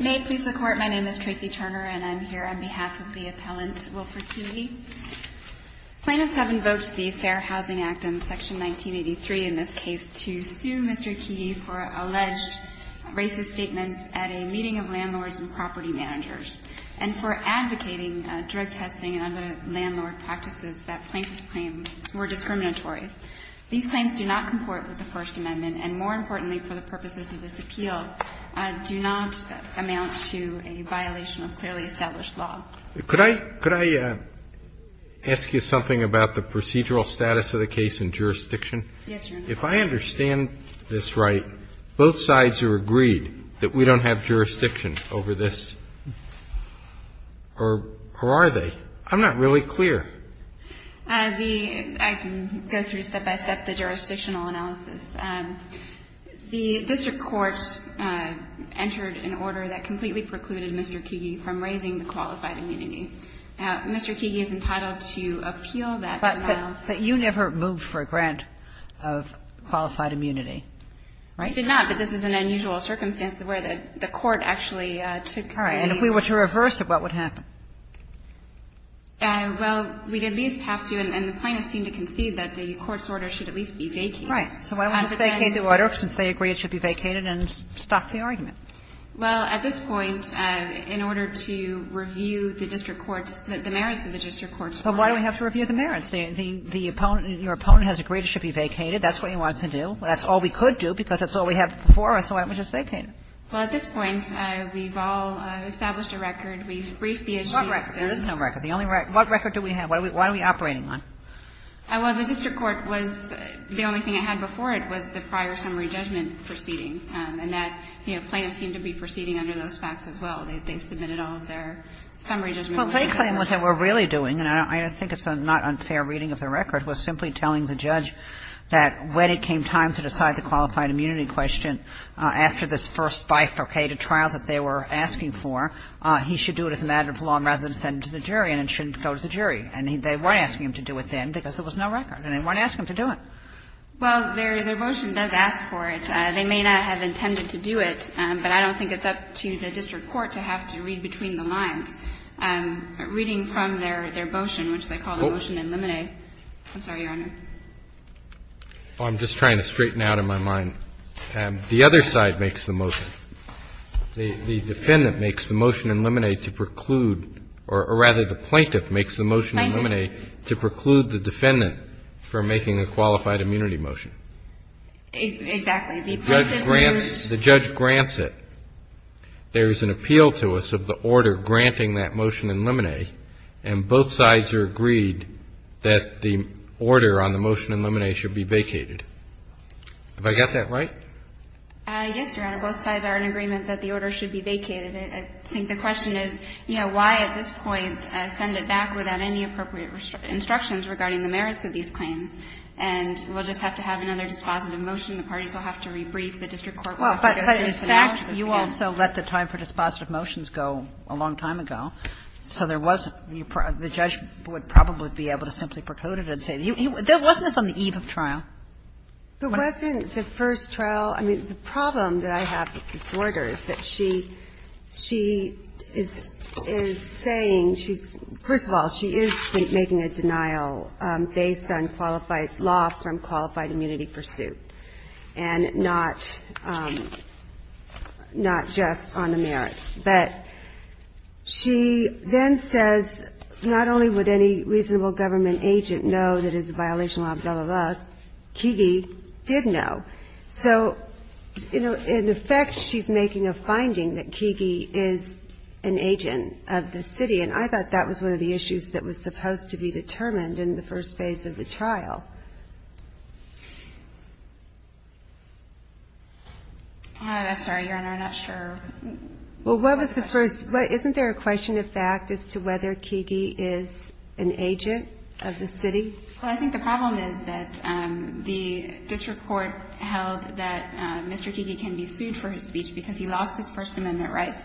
May it please the Court, my name is Tracy Turner and I'm here on behalf of the appellant Wilford Keagy. Plaintiffs have invoked the Fair Housing Act in Section 1983 in this case to sue Mr. Keagy for alleged racist statements at a meeting of landlords and property managers and for advocating drug testing under landlord practices that plaintiffs claim were discriminatory. These claims do not comport with the First Amendment and, more importantly, for the purposes of this appeal, do not amount to a violation of clearly established law. JUSTICE ALITO Could I ask you something about the procedural status of the case in jurisdiction? MS. TURNER Yes, Your Honor. JUSTICE ALITO If I understand this right, both sides are agreed that we don't have jurisdiction over this, or are they? I'm not really clear. MS. TURNER I can go through step-by-step the jurisdictional analysis. The district court entered an order that completely precluded Mr. Keagy from raising the qualified immunity. Mr. Keagy is entitled to appeal that denial. KAGAN But you never moved for a grant of qualified immunity, right? MS. TURNER I did not, but this is an unusual circumstance where the court actually took the ---- KAGAN All right. And if we were to reverse it, what would happen? MS. TURNER Well, we'd at least have to, and the plaintiffs seem to concede that the court's order should at least be vacated. KAGAN Right. So why don't we just vacate the order, since they agree it should be vacated, and stop the argument? MS. TURNER Well, at this point, in order to review the district court's, the merits of the district court's claim ---- KAGAN But why do we have to review the merits? The opponent, your opponent has agreed it should be vacated. That's what he wants to do. That's all we could do, because that's all we have before us, so why don't we just vacate it? MS. TURNER Well, at this point, we've all established a record. We've briefed the agency. KAGAN What record? There is no record. The only record, what record do we have? Why are we operating on? MS. TURNER Well, the district court was, the only thing it had before it was the prior summary judgment proceedings, and that, you know, plaintiffs seem to be proceeding under those facts as well. They submitted all of their summary judgments. KAGAN Well, their claim was that what we're really doing, and I think it's not unfair reading of the record, was simply telling the judge that when it came time to decide the qualified immunity question after this first bifurcated trial that they were asking for, he should do it as an additive law and rather than send it to the jury and it shouldn't go to the jury. And they weren't asking him to do it then because there was no record, and they weren't asking him to do it. MS. TURNER Well, their motion does ask for it. They may not have intended to do it, but I don't think it's up to the district court to have to read between the lines. Reading from their motion, which they call the motion in limine. I'm sorry, Your Honor. CHIEF JUSTICE ROBERTS I'm just trying to straighten out in my mind. The other side makes the motion. The defendant makes the motion in limine to preclude, or rather the plaintiff makes the motion in limine to preclude the defendant from making a qualified immunity motion. MS. TURNER Exactly. CHIEF JUSTICE ROBERTS The judge grants it. There is an appeal to us of the order granting that motion in limine, and both sides are agreed that the order on the motion in limine should be vacated. Have I got that MS. TURNER Yes, Your Honor. Both sides are in agreement that the order should be vacated. I think the question is, you know, why at this point send it back without any appropriate instructions regarding the merits of these claims, and we'll just have to have another dispositive motion. The parties will have to rebrief. The district court will have to go through a senate appeal. KAGAN In fact, you also let the time for dispositive motions go a long time ago, so there wasn't the judge would probably be able to simply preclude it. Wasn't this on the eve of trial? MS. TURNER It wasn't the first trial. I mean, the problem that I have with this order is that she is saying, first of all, she is making a denial based on qualified law from qualified immunity pursuit and not just on the merits. But she then says, not only would any reasonable government agent know that it's a violation of law, blah, blah, blah, Kege did know. So, you know, in effect, she's making a finding that Kege is an agent of the city, and I thought that was one of the issues that was supposed to be determined in the first phase of the trial. MS. TURNER I'm sorry, Your Honor, I'm not sure. MS. TURNER Well, what was the first – isn't there a question of fact as to whether Kege is an agent of the city? MS. TURNER Well, I think the problem is that the district court held that Mr. Kege can be sued for his speech because he lost his First Amendment rights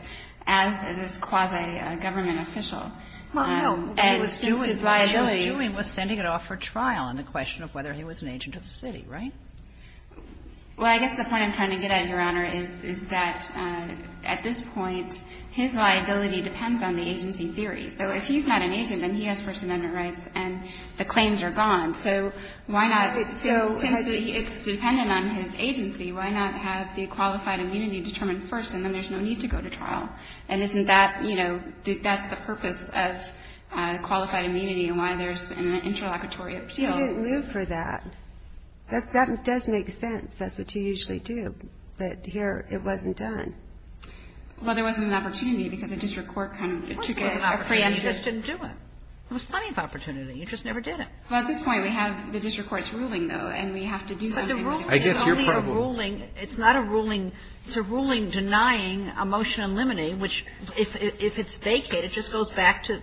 as this quasi government official. And since his liability – Kagan Well, no. What he was doing was sending it off for trial on the question of whether he was an agent of the city, right? MS. TURNER Well, I guess the point I'm trying to get at, Your Honor, is that at this point, his liability depends on the agency theory. So if he's not an agent, then he has First Amendment rights, and the claims are gone. So why not – Kagan So – MS. TURNER It's dependent on his agency. Why not have the qualified immunity determined first, and then there's no need to go to trial? And isn't that – you know, that's the purpose of qualified immunity and why there's an interlocutory appeal. Kagan You didn't move for that. That does make sense. That's what you usually do. But here, it wasn't done. MS. TURNER Well, there wasn't an opportunity because the district court kind of took it as a preemptive. Kagan Of course there was an opportunity. You just didn't do it. There was plenty of opportunity. You just never did it. MS. TURNER Well, at this point, we have the district court's ruling, though, and we have to do something with it. Kagan But the ruling is only a ruling – MS. TURNER I guess your problem – MS. TURNER It's a ruling denying a motion in limine, which if it's vacated, it just goes back to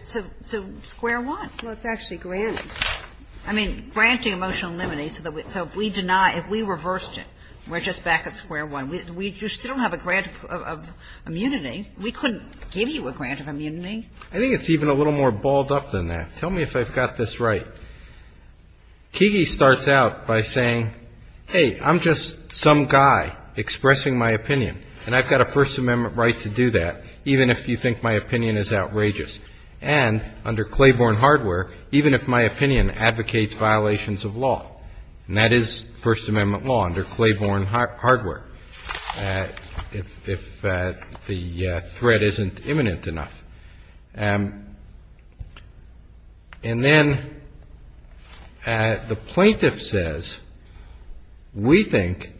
square one. Kagan Well, it's actually granted. MS. TURNER I mean, granting a motion in limine so that we – so if we deny, if we reversed it, we're just back at square one. We – you still don't have a grant of immunity. We couldn't give you a grant of immunity. CHIEF JUSTICE ROBERTS I think it's even a little more balled up than that. Tell me if I've got this right. Keegee starts out by saying, hey, I'm just some guy expressing my opinion, and I've got a First Amendment right to do that, even if you think my opinion is outrageous, and under Claiborne hardware, even if my opinion advocates violations of law, and that is First Amendment law under Claiborne hardware, if the threat isn't imminent enough. And then the plaintiff says, we think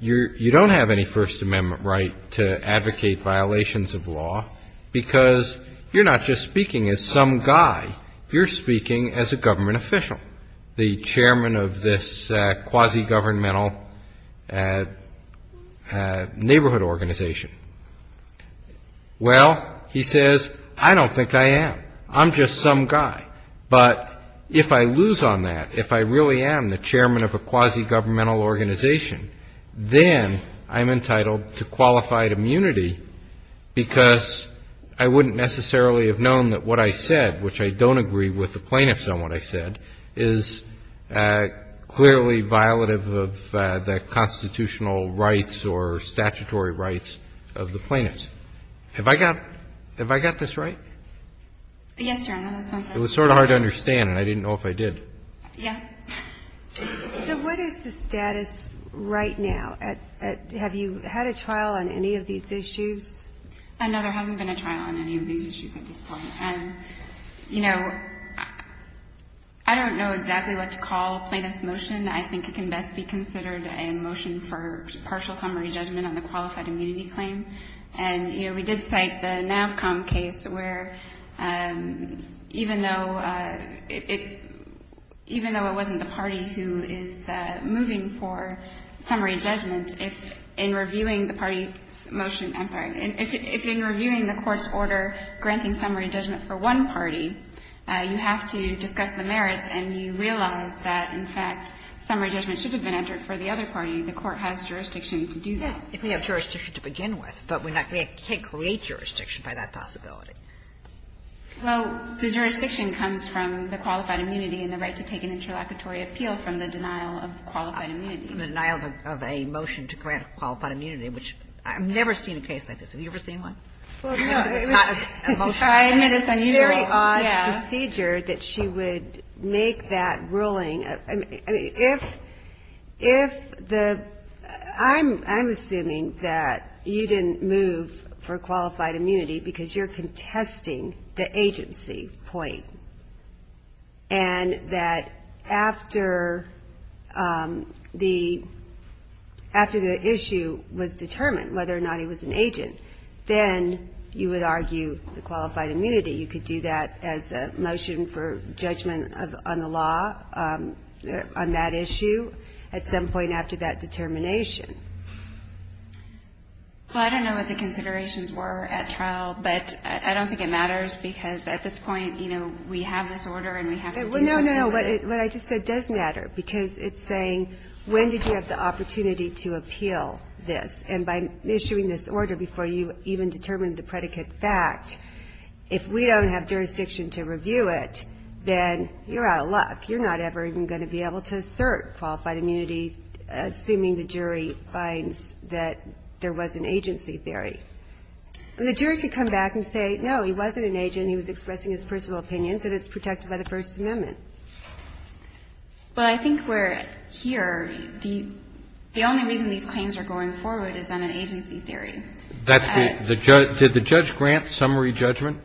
you don't have any First Amendment right to advocate violations of law because you're not just speaking as some guy, you're speaking as a government official, the chairman of this quasi-governmental neighborhood organization. Well, he says, I don't think I am. I'm just some guy. But if I lose on that, if I really am the chairman of a quasi-governmental organization, then I'm entitled to qualified immunity because I wouldn't necessarily have known that what I said, which I don't agree with the plaintiffs on what I said, is clearly violative of the constitutional rights or Yes, Your Honor. That sounds right. It was sort of hard to understand, and I didn't know if I did. Yeah. So what is the status right now? Have you had a trial on any of these issues? No, there hasn't been a trial on any of these issues at this point. And, you know, I don't know exactly what to call a plaintiff's motion. I think it can best be considered a motion for partial summary judgment on the qualified immunity claim. And, you know, we did cite the NAVCOM case where, even though it wasn't the party who is moving for summary judgment, if in reviewing the party's motion – I'm sorry – if in reviewing the court's order granting summary judgment for one party, you have to discuss the merits and you realize that, in fact, summary judgment should have been entered for the other party, the court has jurisdiction to do that. If we have jurisdiction to begin with, but we can't create jurisdiction by that possibility. Well, the jurisdiction comes from the qualified immunity and the right to take an interlocutory appeal from the denial of qualified immunity. Denial of a motion to grant qualified immunity, which I've never seen a case like this. Have you ever seen one? Well, no. It's not a motion. I admit it's unusual. It's a very odd procedure that she would make that ruling. I mean, if the – I'm assuming that you didn't move for qualified immunity because you're contesting the agency point, and that after the issue was determined, whether or not he was an agent, then you would argue the qualified immunity. You could do that as a motion for judgment on the law on that issue at some point after that determination. Well, I don't know what the considerations were at trial, but I don't think it matters because at this point, you know, we have this order and we have to do something with it. Well, no, no. What I just said does matter because it's saying when did you have the opportunity to appeal this. And by issuing this order before you even determined the predicate fact, if we don't have jurisdiction to review it, then you're out of luck. You're not ever even going to be able to assert qualified immunity, assuming the jury finds that there was an agency theory. And the jury could come back and say, no, he wasn't an agent. He was expressing his personal opinions, and it's protected by the First Amendment. Well, I think we're here. The only reason these claims are going forward is on an agency theory. Did the judge grant summary judgment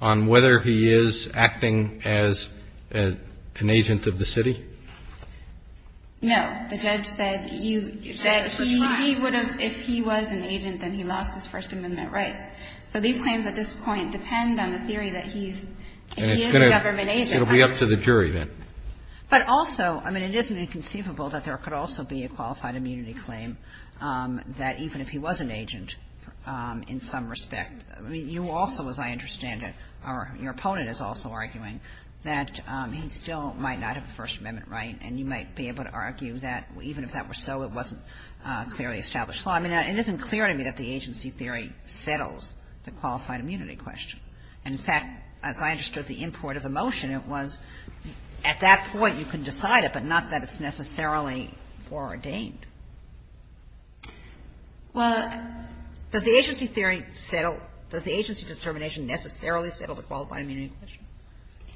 on whether he is acting as an agent of the city? No. The judge said he would have, if he was an agent, then he lost his First Amendment rights. So these claims at this point depend on the theory that he is a government agent. It'll be up to the jury, then. But also, I mean, it isn't inconceivable that there could also be a qualified immunity claim that even if he was an agent in some respect. I mean, you also, as I understand it, or your opponent is also arguing that he still might not have a First Amendment right, and you might be able to argue that even if that were so, it wasn't clearly established. Well, I mean, it isn't clear to me that the agency theory settles the qualified immunity question. And, in fact, as I understood the import of the motion, it was at that point you can decide it, but not that it's necessarily foreordained. Well. Does the agency theory settle? Does the agency determination necessarily settle the qualified immunity question?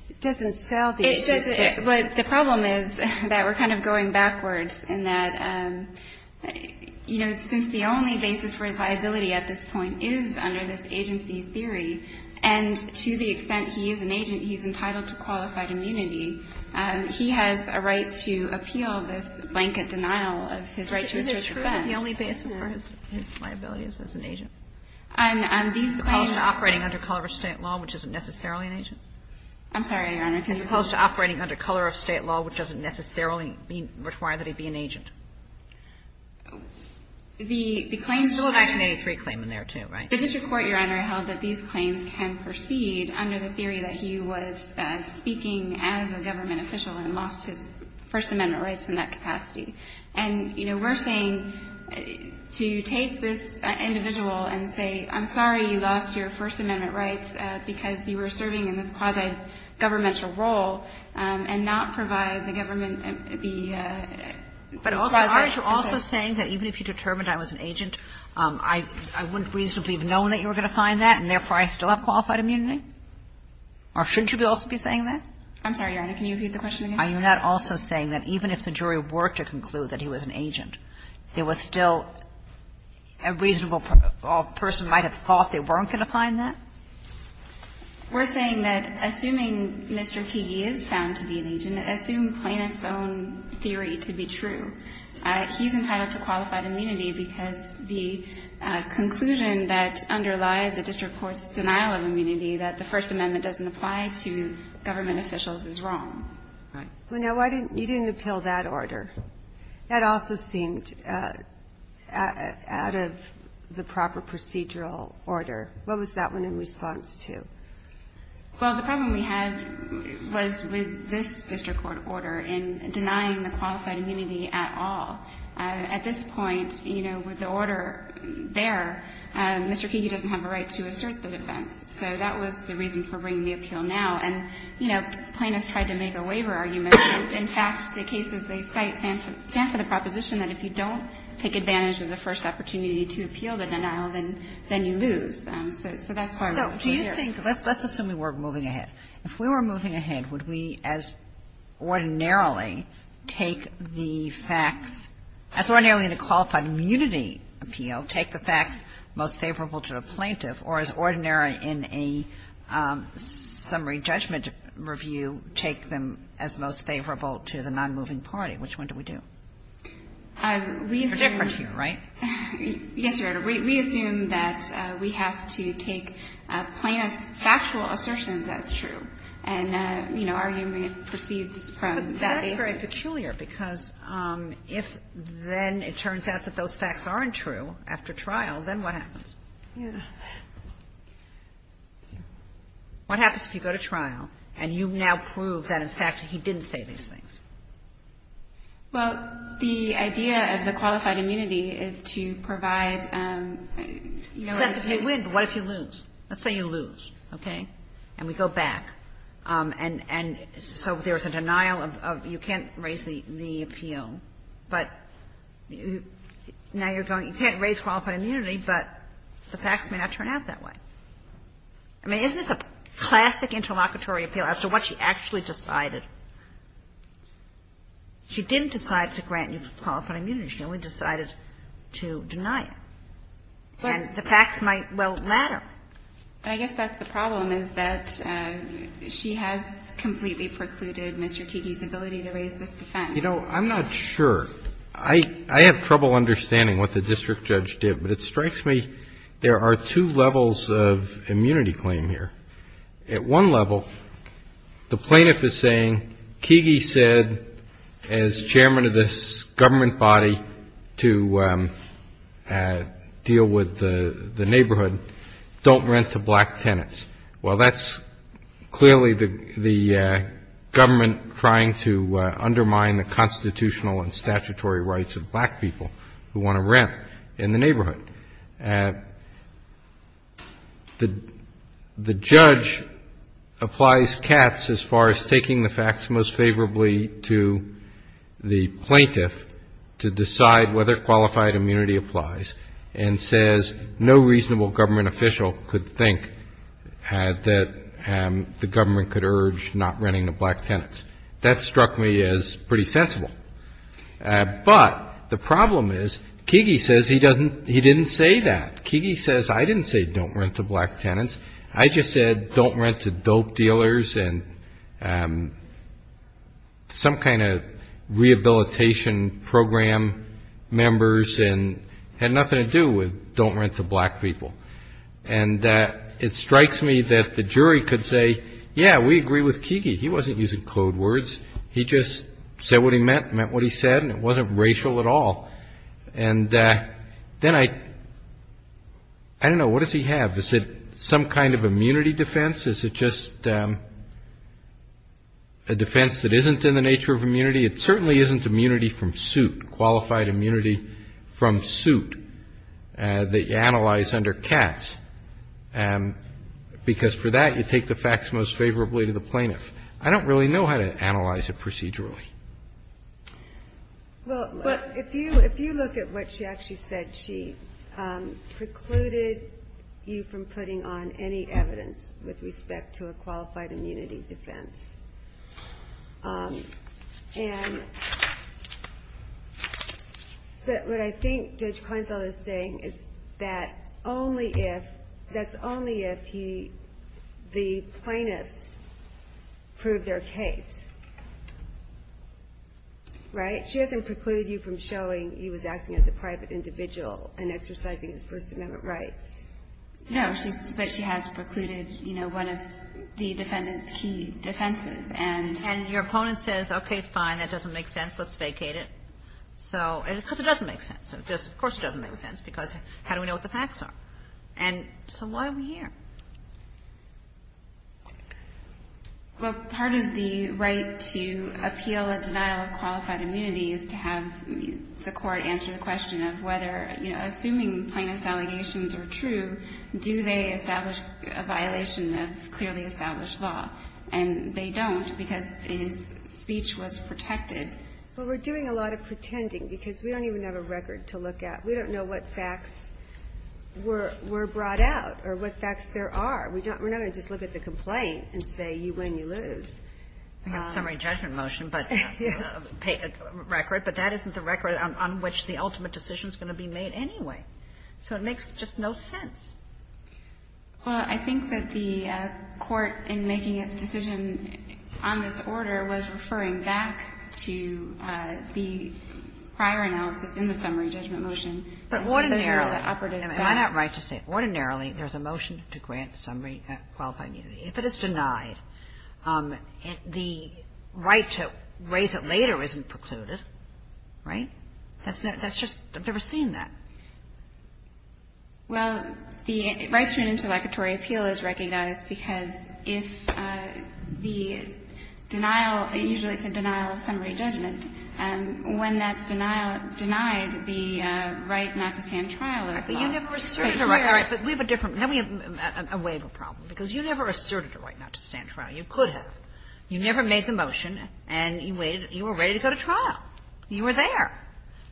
It doesn't sell the agency theory. It doesn't. But the problem is that we're kind of going backwards in that, you know, since the only basis for his liability at this point is under this agency theory, and to the extent he is an agent, he's entitled to qualified immunity, he has a right to appeal this blanket denial of his right to assert defense. But isn't it true that the only basis for his liability is as an agent? And on these claims he's entitled to a qualified immunity claim. As opposed to operating under color of State law, which isn't necessarily an agent? I'm sorry, Your Honor, can you repeat that? As opposed to operating under color of State law, which doesn't necessarily require that he be an agent. The claims go back to the district court, Your Honor, held that these claims can proceed under the theory that he was speaking as a government official and lost his First Amendment rights in that capacity. And, you know, we're saying to take this individual and say, I'm sorry, you lost your First Amendment rights because you were serving in this quasi-governmental role, and not provide the government the authority. So are you also saying that even if you determined I was an agent, I wouldn't reasonably have known that you were going to find that, and therefore I still have qualified immunity? Or shouldn't you also be saying that? I'm sorry, Your Honor. Can you repeat the question again? Are you not also saying that even if the jury were to conclude that he was an agent, there was still a reasonable person might have thought they weren't going to find that? We're saying that assuming Mr. Keegee is found to be an agent, assume Planoff's own theory to be true, he's entitled to qualified immunity because the conclusion that underlie the district court's denial of immunity, that the First Amendment doesn't apply to government officials, is wrong. Well, no, you didn't appeal that order. That also seemed out of the proper procedural order. What was that one in response to? Well, the problem we had was with this district court order in denying the qualified immunity at all. At this point, you know, with the order there, Mr. Keegee doesn't have a right to assert the defense. So that was the reason for bringing the appeal now. And, you know, Planoff tried to make a waiver argument. In fact, the cases they cite stand for the proposition that if you don't take advantage of the first opportunity to appeal the denial, then you lose. So that's why we're here. So do you think, let's assume we were moving ahead. If we were moving ahead, would we as ordinarily take the facts, as ordinarily in a qualified immunity appeal, take the facts most favorable to a plaintiff, or as ordinarily in a summary judgment review, take them as most favorable to the nonmoving party? Which one do we do? We assume. They're different here, right? Yes, Your Honor. We assume that we have to take Planoff's factual assertions as true. And, you know, our argument proceeds from that basis. But that's very peculiar, because if then it turns out that those facts aren't true after trial, then what happens? Yeah. What happens if you go to trial and you now prove that, in fact, he didn't say these things? Well, the idea of the qualified immunity is to provide, you know, a... You have to pay win, but what if you lose? Let's say you lose, okay? And we go back. And so there's a denial of you can't raise the appeal, but now you're going, you can't raise qualified immunity, but the facts may not turn out that way. I mean, isn't this a classic interlocutory appeal as to what she actually decided? She didn't decide to grant you qualified immunity. She only decided to deny it. And the facts might, well, matter. But I guess that's the problem, is that she has completely precluded Mr. Kiki's ability to raise this defense. You know, I'm not sure. I have trouble understanding what the district judge did, but it strikes me there are two levels of immunity claim here. At one level, the plaintiff is saying Kiki said as chairman of this government body to deal with the neighborhood, don't rent to black tenants. Well, that's clearly the government trying to undermine the constitutional and statutory rights of black people who want to rent in the neighborhood. The judge applies cats as far as taking the facts most favorably to the plaintiff to decide whether qualified immunity applies and says no reasonable government official could think that the government could urge not renting to black tenants. That struck me as pretty sensible. But the problem is Kiki says he didn't say that. Kiki says I didn't say don't rent to black tenants. I just said don't rent to dope dealers and some kind of rehabilitation program members and had nothing to do with don't rent to black people. And it strikes me that the jury could say, yeah, we agree with Kiki. He wasn't using code words. He just said what he meant, meant what he said, and it wasn't racial at all. And then I don't know. What does he have? Is it some kind of immunity defense? Is it just a defense that isn't in the nature of immunity? It certainly isn't immunity from suit, qualified immunity from suit that you analyze under cats because for that, you take the facts most favorably to the plaintiff. I don't really know how to analyze it procedurally. Well, if you look at what she actually said, she precluded you from putting on any evidence with respect to a qualified immunity defense. And what I think Judge Kleinfeld is saying is that only if, that's only if the plaintiffs prove their case, right? She hasn't precluded you from showing he was acting as a private individual and exercising his First Amendment rights. No. But she has precluded, you know, one of the defendant's key defenses. And your opponent says, okay, fine. That doesn't make sense. Let's vacate it. So because it doesn't make sense. Of course it doesn't make sense because how do we know what the facts are? And so why are we here? Well, part of the right to appeal a denial of qualified immunity is to have the court answer the question of whether, you know, assuming plaintiff's allegations are true, do they establish a violation of clearly established law? And they don't because his speech was protected. But we're doing a lot of pretending because we don't even have a record to look at. We don't know what facts were brought out or what facts there are. We're not going to just look at the complaint and say you win, you lose. We have a summary judgment motion, but a record. But that isn't the record on which the ultimate decision is going to be made anyway. So it makes just no sense. Well, I think that the court in making its decision on this order was referring back to the prior analysis in the summary judgment motion. But ordinarily am I not right to say ordinarily there's a motion to grant summary qualified immunity. If it is denied, the right to raise it later isn't precluded, right? That's just – I've never seen that. Well, the right to an interlocutory appeal is recognized because if the denial – usually it's a denial of summary judgment. When that's denied, the right not to stand trial is lost. But you never asserted a right. All right. But we have a different – now we have a waiver problem. Because you never asserted a right not to stand trial. You could have. You never made the motion and you waited – you were ready to go to trial. You were there.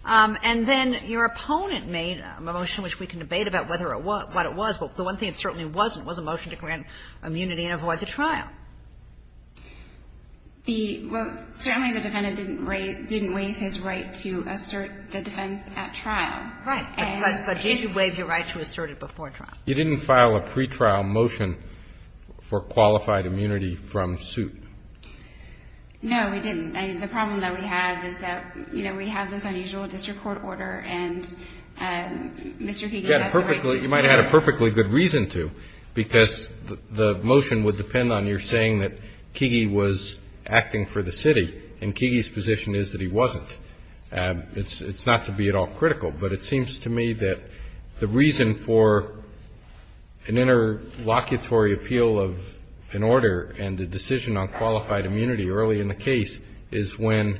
And then your opponent made a motion which we can debate about whether or what it was, but the one thing it certainly wasn't was a motion to grant immunity and avoid the trial. The – well, certainly the defendant didn't waive his right to assert the defense at trial. Right. But did you waive your right to assert it before trial? You didn't file a pretrial motion for qualified immunity from suit. No, we didn't. I mean, the problem that we have is that, you know, we have this unusual district court order and Mr. Kege has the right to – You might have had a perfectly good reason to because the motion would depend on your saying that Kege was acting for the city and Kege's position is that he wasn't. It's not to be at all critical, but it seems to me that the reason for an interlocutory appeal of an order and the decision on qualified immunity early in the case is when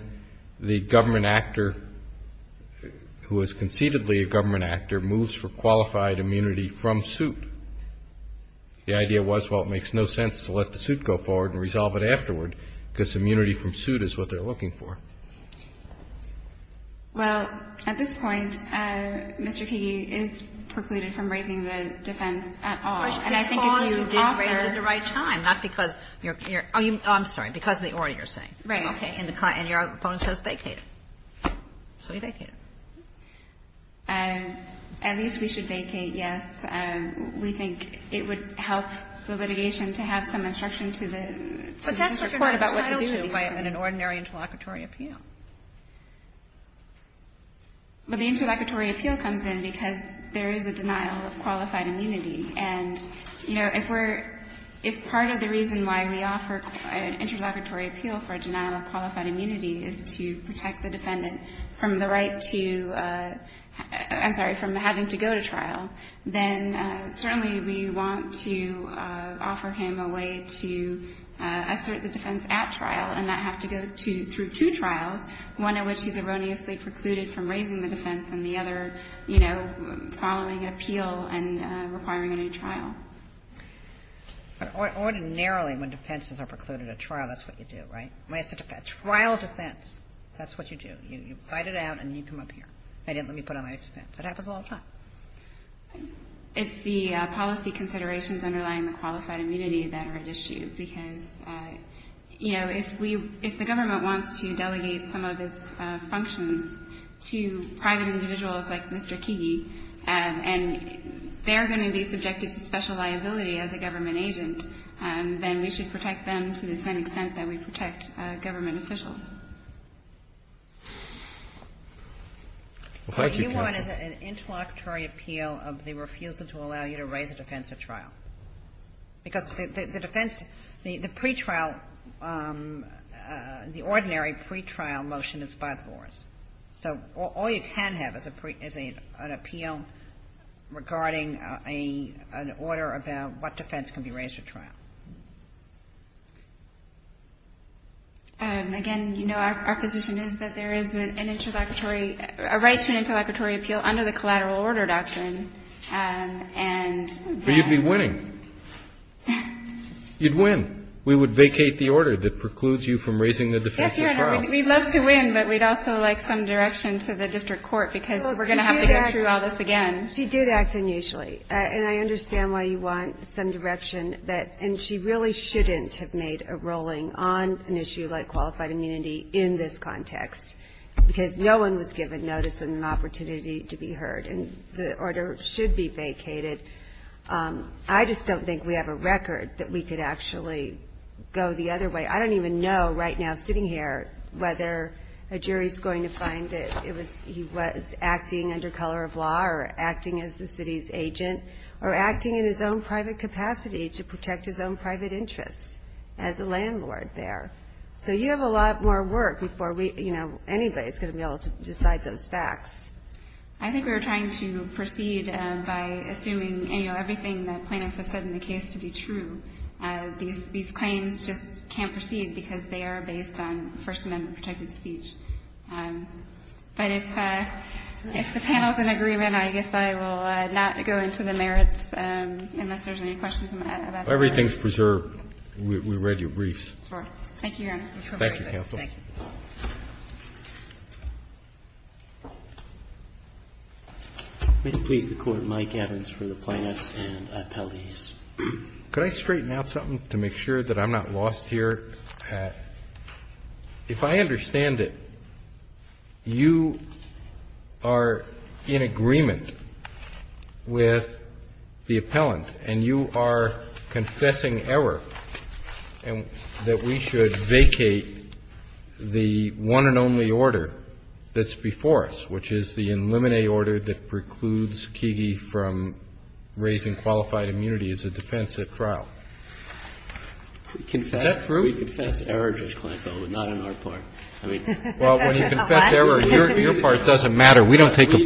the government actor who is concededly a government actor moves for qualified immunity from suit. The idea was, well, it makes no sense to let the suit go forward and resolve it Well, at this point, Mr. Kege is precluded from raising the defense at all. And I think if you offer – Because you didn't raise it at the right time, not because you're – I'm sorry, because of the order you're saying. Right. Okay. And your opponent says vacate it. So you vacate it. At least we should vacate, yes. We think it would help the litigation to have some instruction to the district court. But that's what you're not entitled to in an ordinary interlocutory appeal. Well, the interlocutory appeal comes in because there is a denial of qualified immunity. And, you know, if we're – if part of the reason why we offer an interlocutory appeal for a denial of qualified immunity is to protect the defendant from the right to – I'm sorry, from having to go to trial, then certainly we want to offer him a way to assert the defense at trial and not have to go through two trials – one of which he's erroneously precluded from raising the defense and the other, you know, following appeal and requiring a new trial. But ordinarily when defenses are precluded at trial, that's what you do, right? When it's a trial defense, that's what you do. You fight it out and you come up here. I didn't let me put on my defense. It happens all the time. It's the policy considerations underlying the qualified immunity that are at issue because, you know, if we – if the government wants to delegate some of its functions to private individuals like Mr. Keegee, and they're going to be subjected to special liability as a government agent, then we should protect them to the same extent that we protect government officials. Thank you, counsel. What you want is an interlocutory appeal of the refusal to allow you to raise a defense at trial. Because the defense – the pretrial – the ordinary pretrial motion is by the laws. So all you can have is a – is an appeal regarding an order about what defense can be raised at trial. Again, you know, our position is that there is an interlocutory – a right to an interlocutory appeal under the collateral order doctrine. But you'd be winning. You'd win. We would vacate the order that precludes you from raising the defense at trial. Yes, Your Honor. We'd love to win, but we'd also like some direction to the district court because we're going to have to go through all this again. Well, she did act – she did act unusually. And I understand why you want some direction, but – and she really shouldn't have made a rolling on an issue like qualified immunity in this context, because no one was given notice and an opportunity to be heard. And the order should be vacated. I just don't think we have a record that we could actually go the other way. I don't even know right now sitting here whether a jury is going to find that it was – he was acting under color of law or acting as the city's agent or acting in his own private capacity to protect his own private interests as a landlord there. So you have a lot more work before we – you know, anybody is going to be able to decide those facts. I think we were trying to proceed by assuming, you know, everything that plaintiffs have said in the case to be true. These claims just can't proceed because they are based on First Amendment protected speech. But if the panel is in agreement, I guess I will not go into the merits unless there's any questions about that. If everything is preserved, we read your briefs. Thank you, Your Honor. Thank you, counsel. Thank you. May it please the Court, Mike Evans for the plaintiffs and appellees. Could I straighten out something to make sure that I'm not lost here? If I understand it, you are in agreement with the appellant and you are confessing error that we should vacate the one and only order that's before us, which is the eliminate order that precludes Kege from raising qualified immunity as a defense at trial. Is that true? We confess error, Judge Kleinfeld, but not on our part. I mean – Well, when you confess error, your part doesn't matter. We absolutely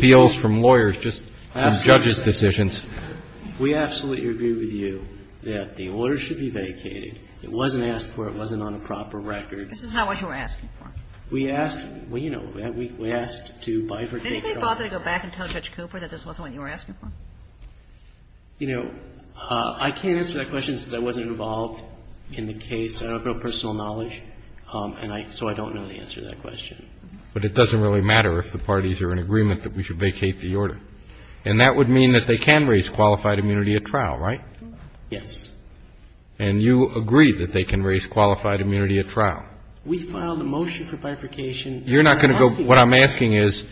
agree with you that the order should be vacated. It wasn't asked for. It wasn't on a proper record. This is not what you were asking for. We asked – well, you know, we asked to bifurcate trial. Did anybody bother to go back and tell Judge Cooper that this wasn't what you were asking for? You know, I can't answer that question since I wasn't involved in the case. I don't have real personal knowledge, and so I don't know the answer to that question. But it doesn't really matter if the parties are in agreement that we should vacate the order. And that would mean that they can raise qualified immunity at trial, right? Yes. And you agree that they can raise qualified immunity at trial? We filed a motion for bifurcation. You're not going to go – what I'm asking is,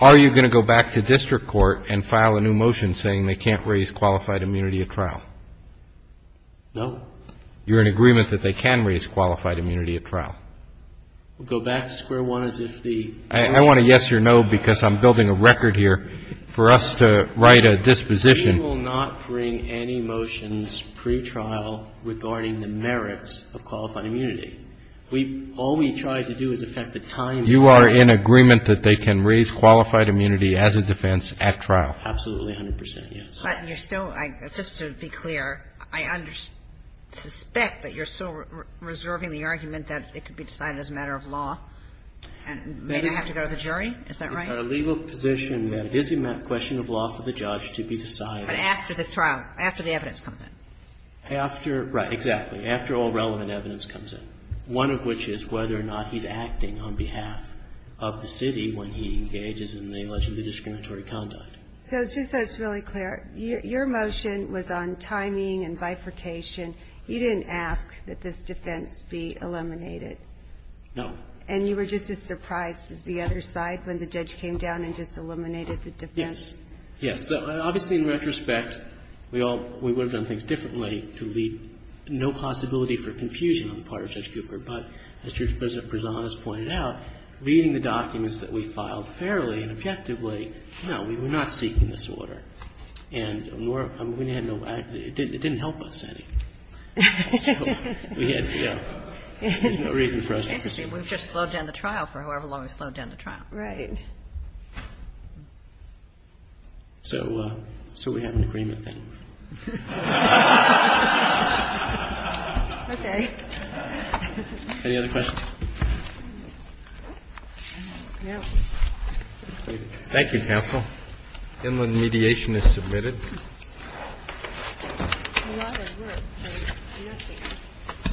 are you going to go back to district court and file a new motion saying they can't raise qualified immunity at trial? No. You're in agreement that they can raise qualified immunity at trial? We'll go back to square one as if the – I want a yes or no because I'm building a record here for us to write a disposition. We will not bring any motions pre-trial regarding the merits of qualified immunity. We – all we tried to do is affect the timing. You are in agreement that they can raise qualified immunity as a defense at trial? Absolutely 100 percent, yes. But you're still – just to be clear, I suspect that you're still reserving the argument that it could be decided as a matter of law and may not have to go to the jury, is that right? It's a legal position that it is a question of law for the judge to be decided. But after the trial, after the evidence comes in. After – right, exactly. After all relevant evidence comes in. One of which is whether or not he's acting on behalf of the city when he engages in the alleged discriminatory conduct. So just so it's really clear, your motion was on timing and bifurcation. You didn't ask that this defense be eliminated? No. And you were just as surprised as the other side when the judge came down and just eliminated the defense? Yes. Yes. Obviously, in retrospect, we all – we would have done things differently to leave no possibility for confusion on the part of Judge Cooper. But as Judge President Prezan has pointed out, reading the documents that we filed fairly and objectively, no, we were not seeking this order. And we had no – it didn't help us any. So we had – yeah. There's no reason for us to assume. Interesting. We've just slowed down the trial for however long we've slowed down the trial. Right. So we have an agreement then. Okay. Any other questions? No. Thank you, counsel. Inland mediation is submitted. Thank you.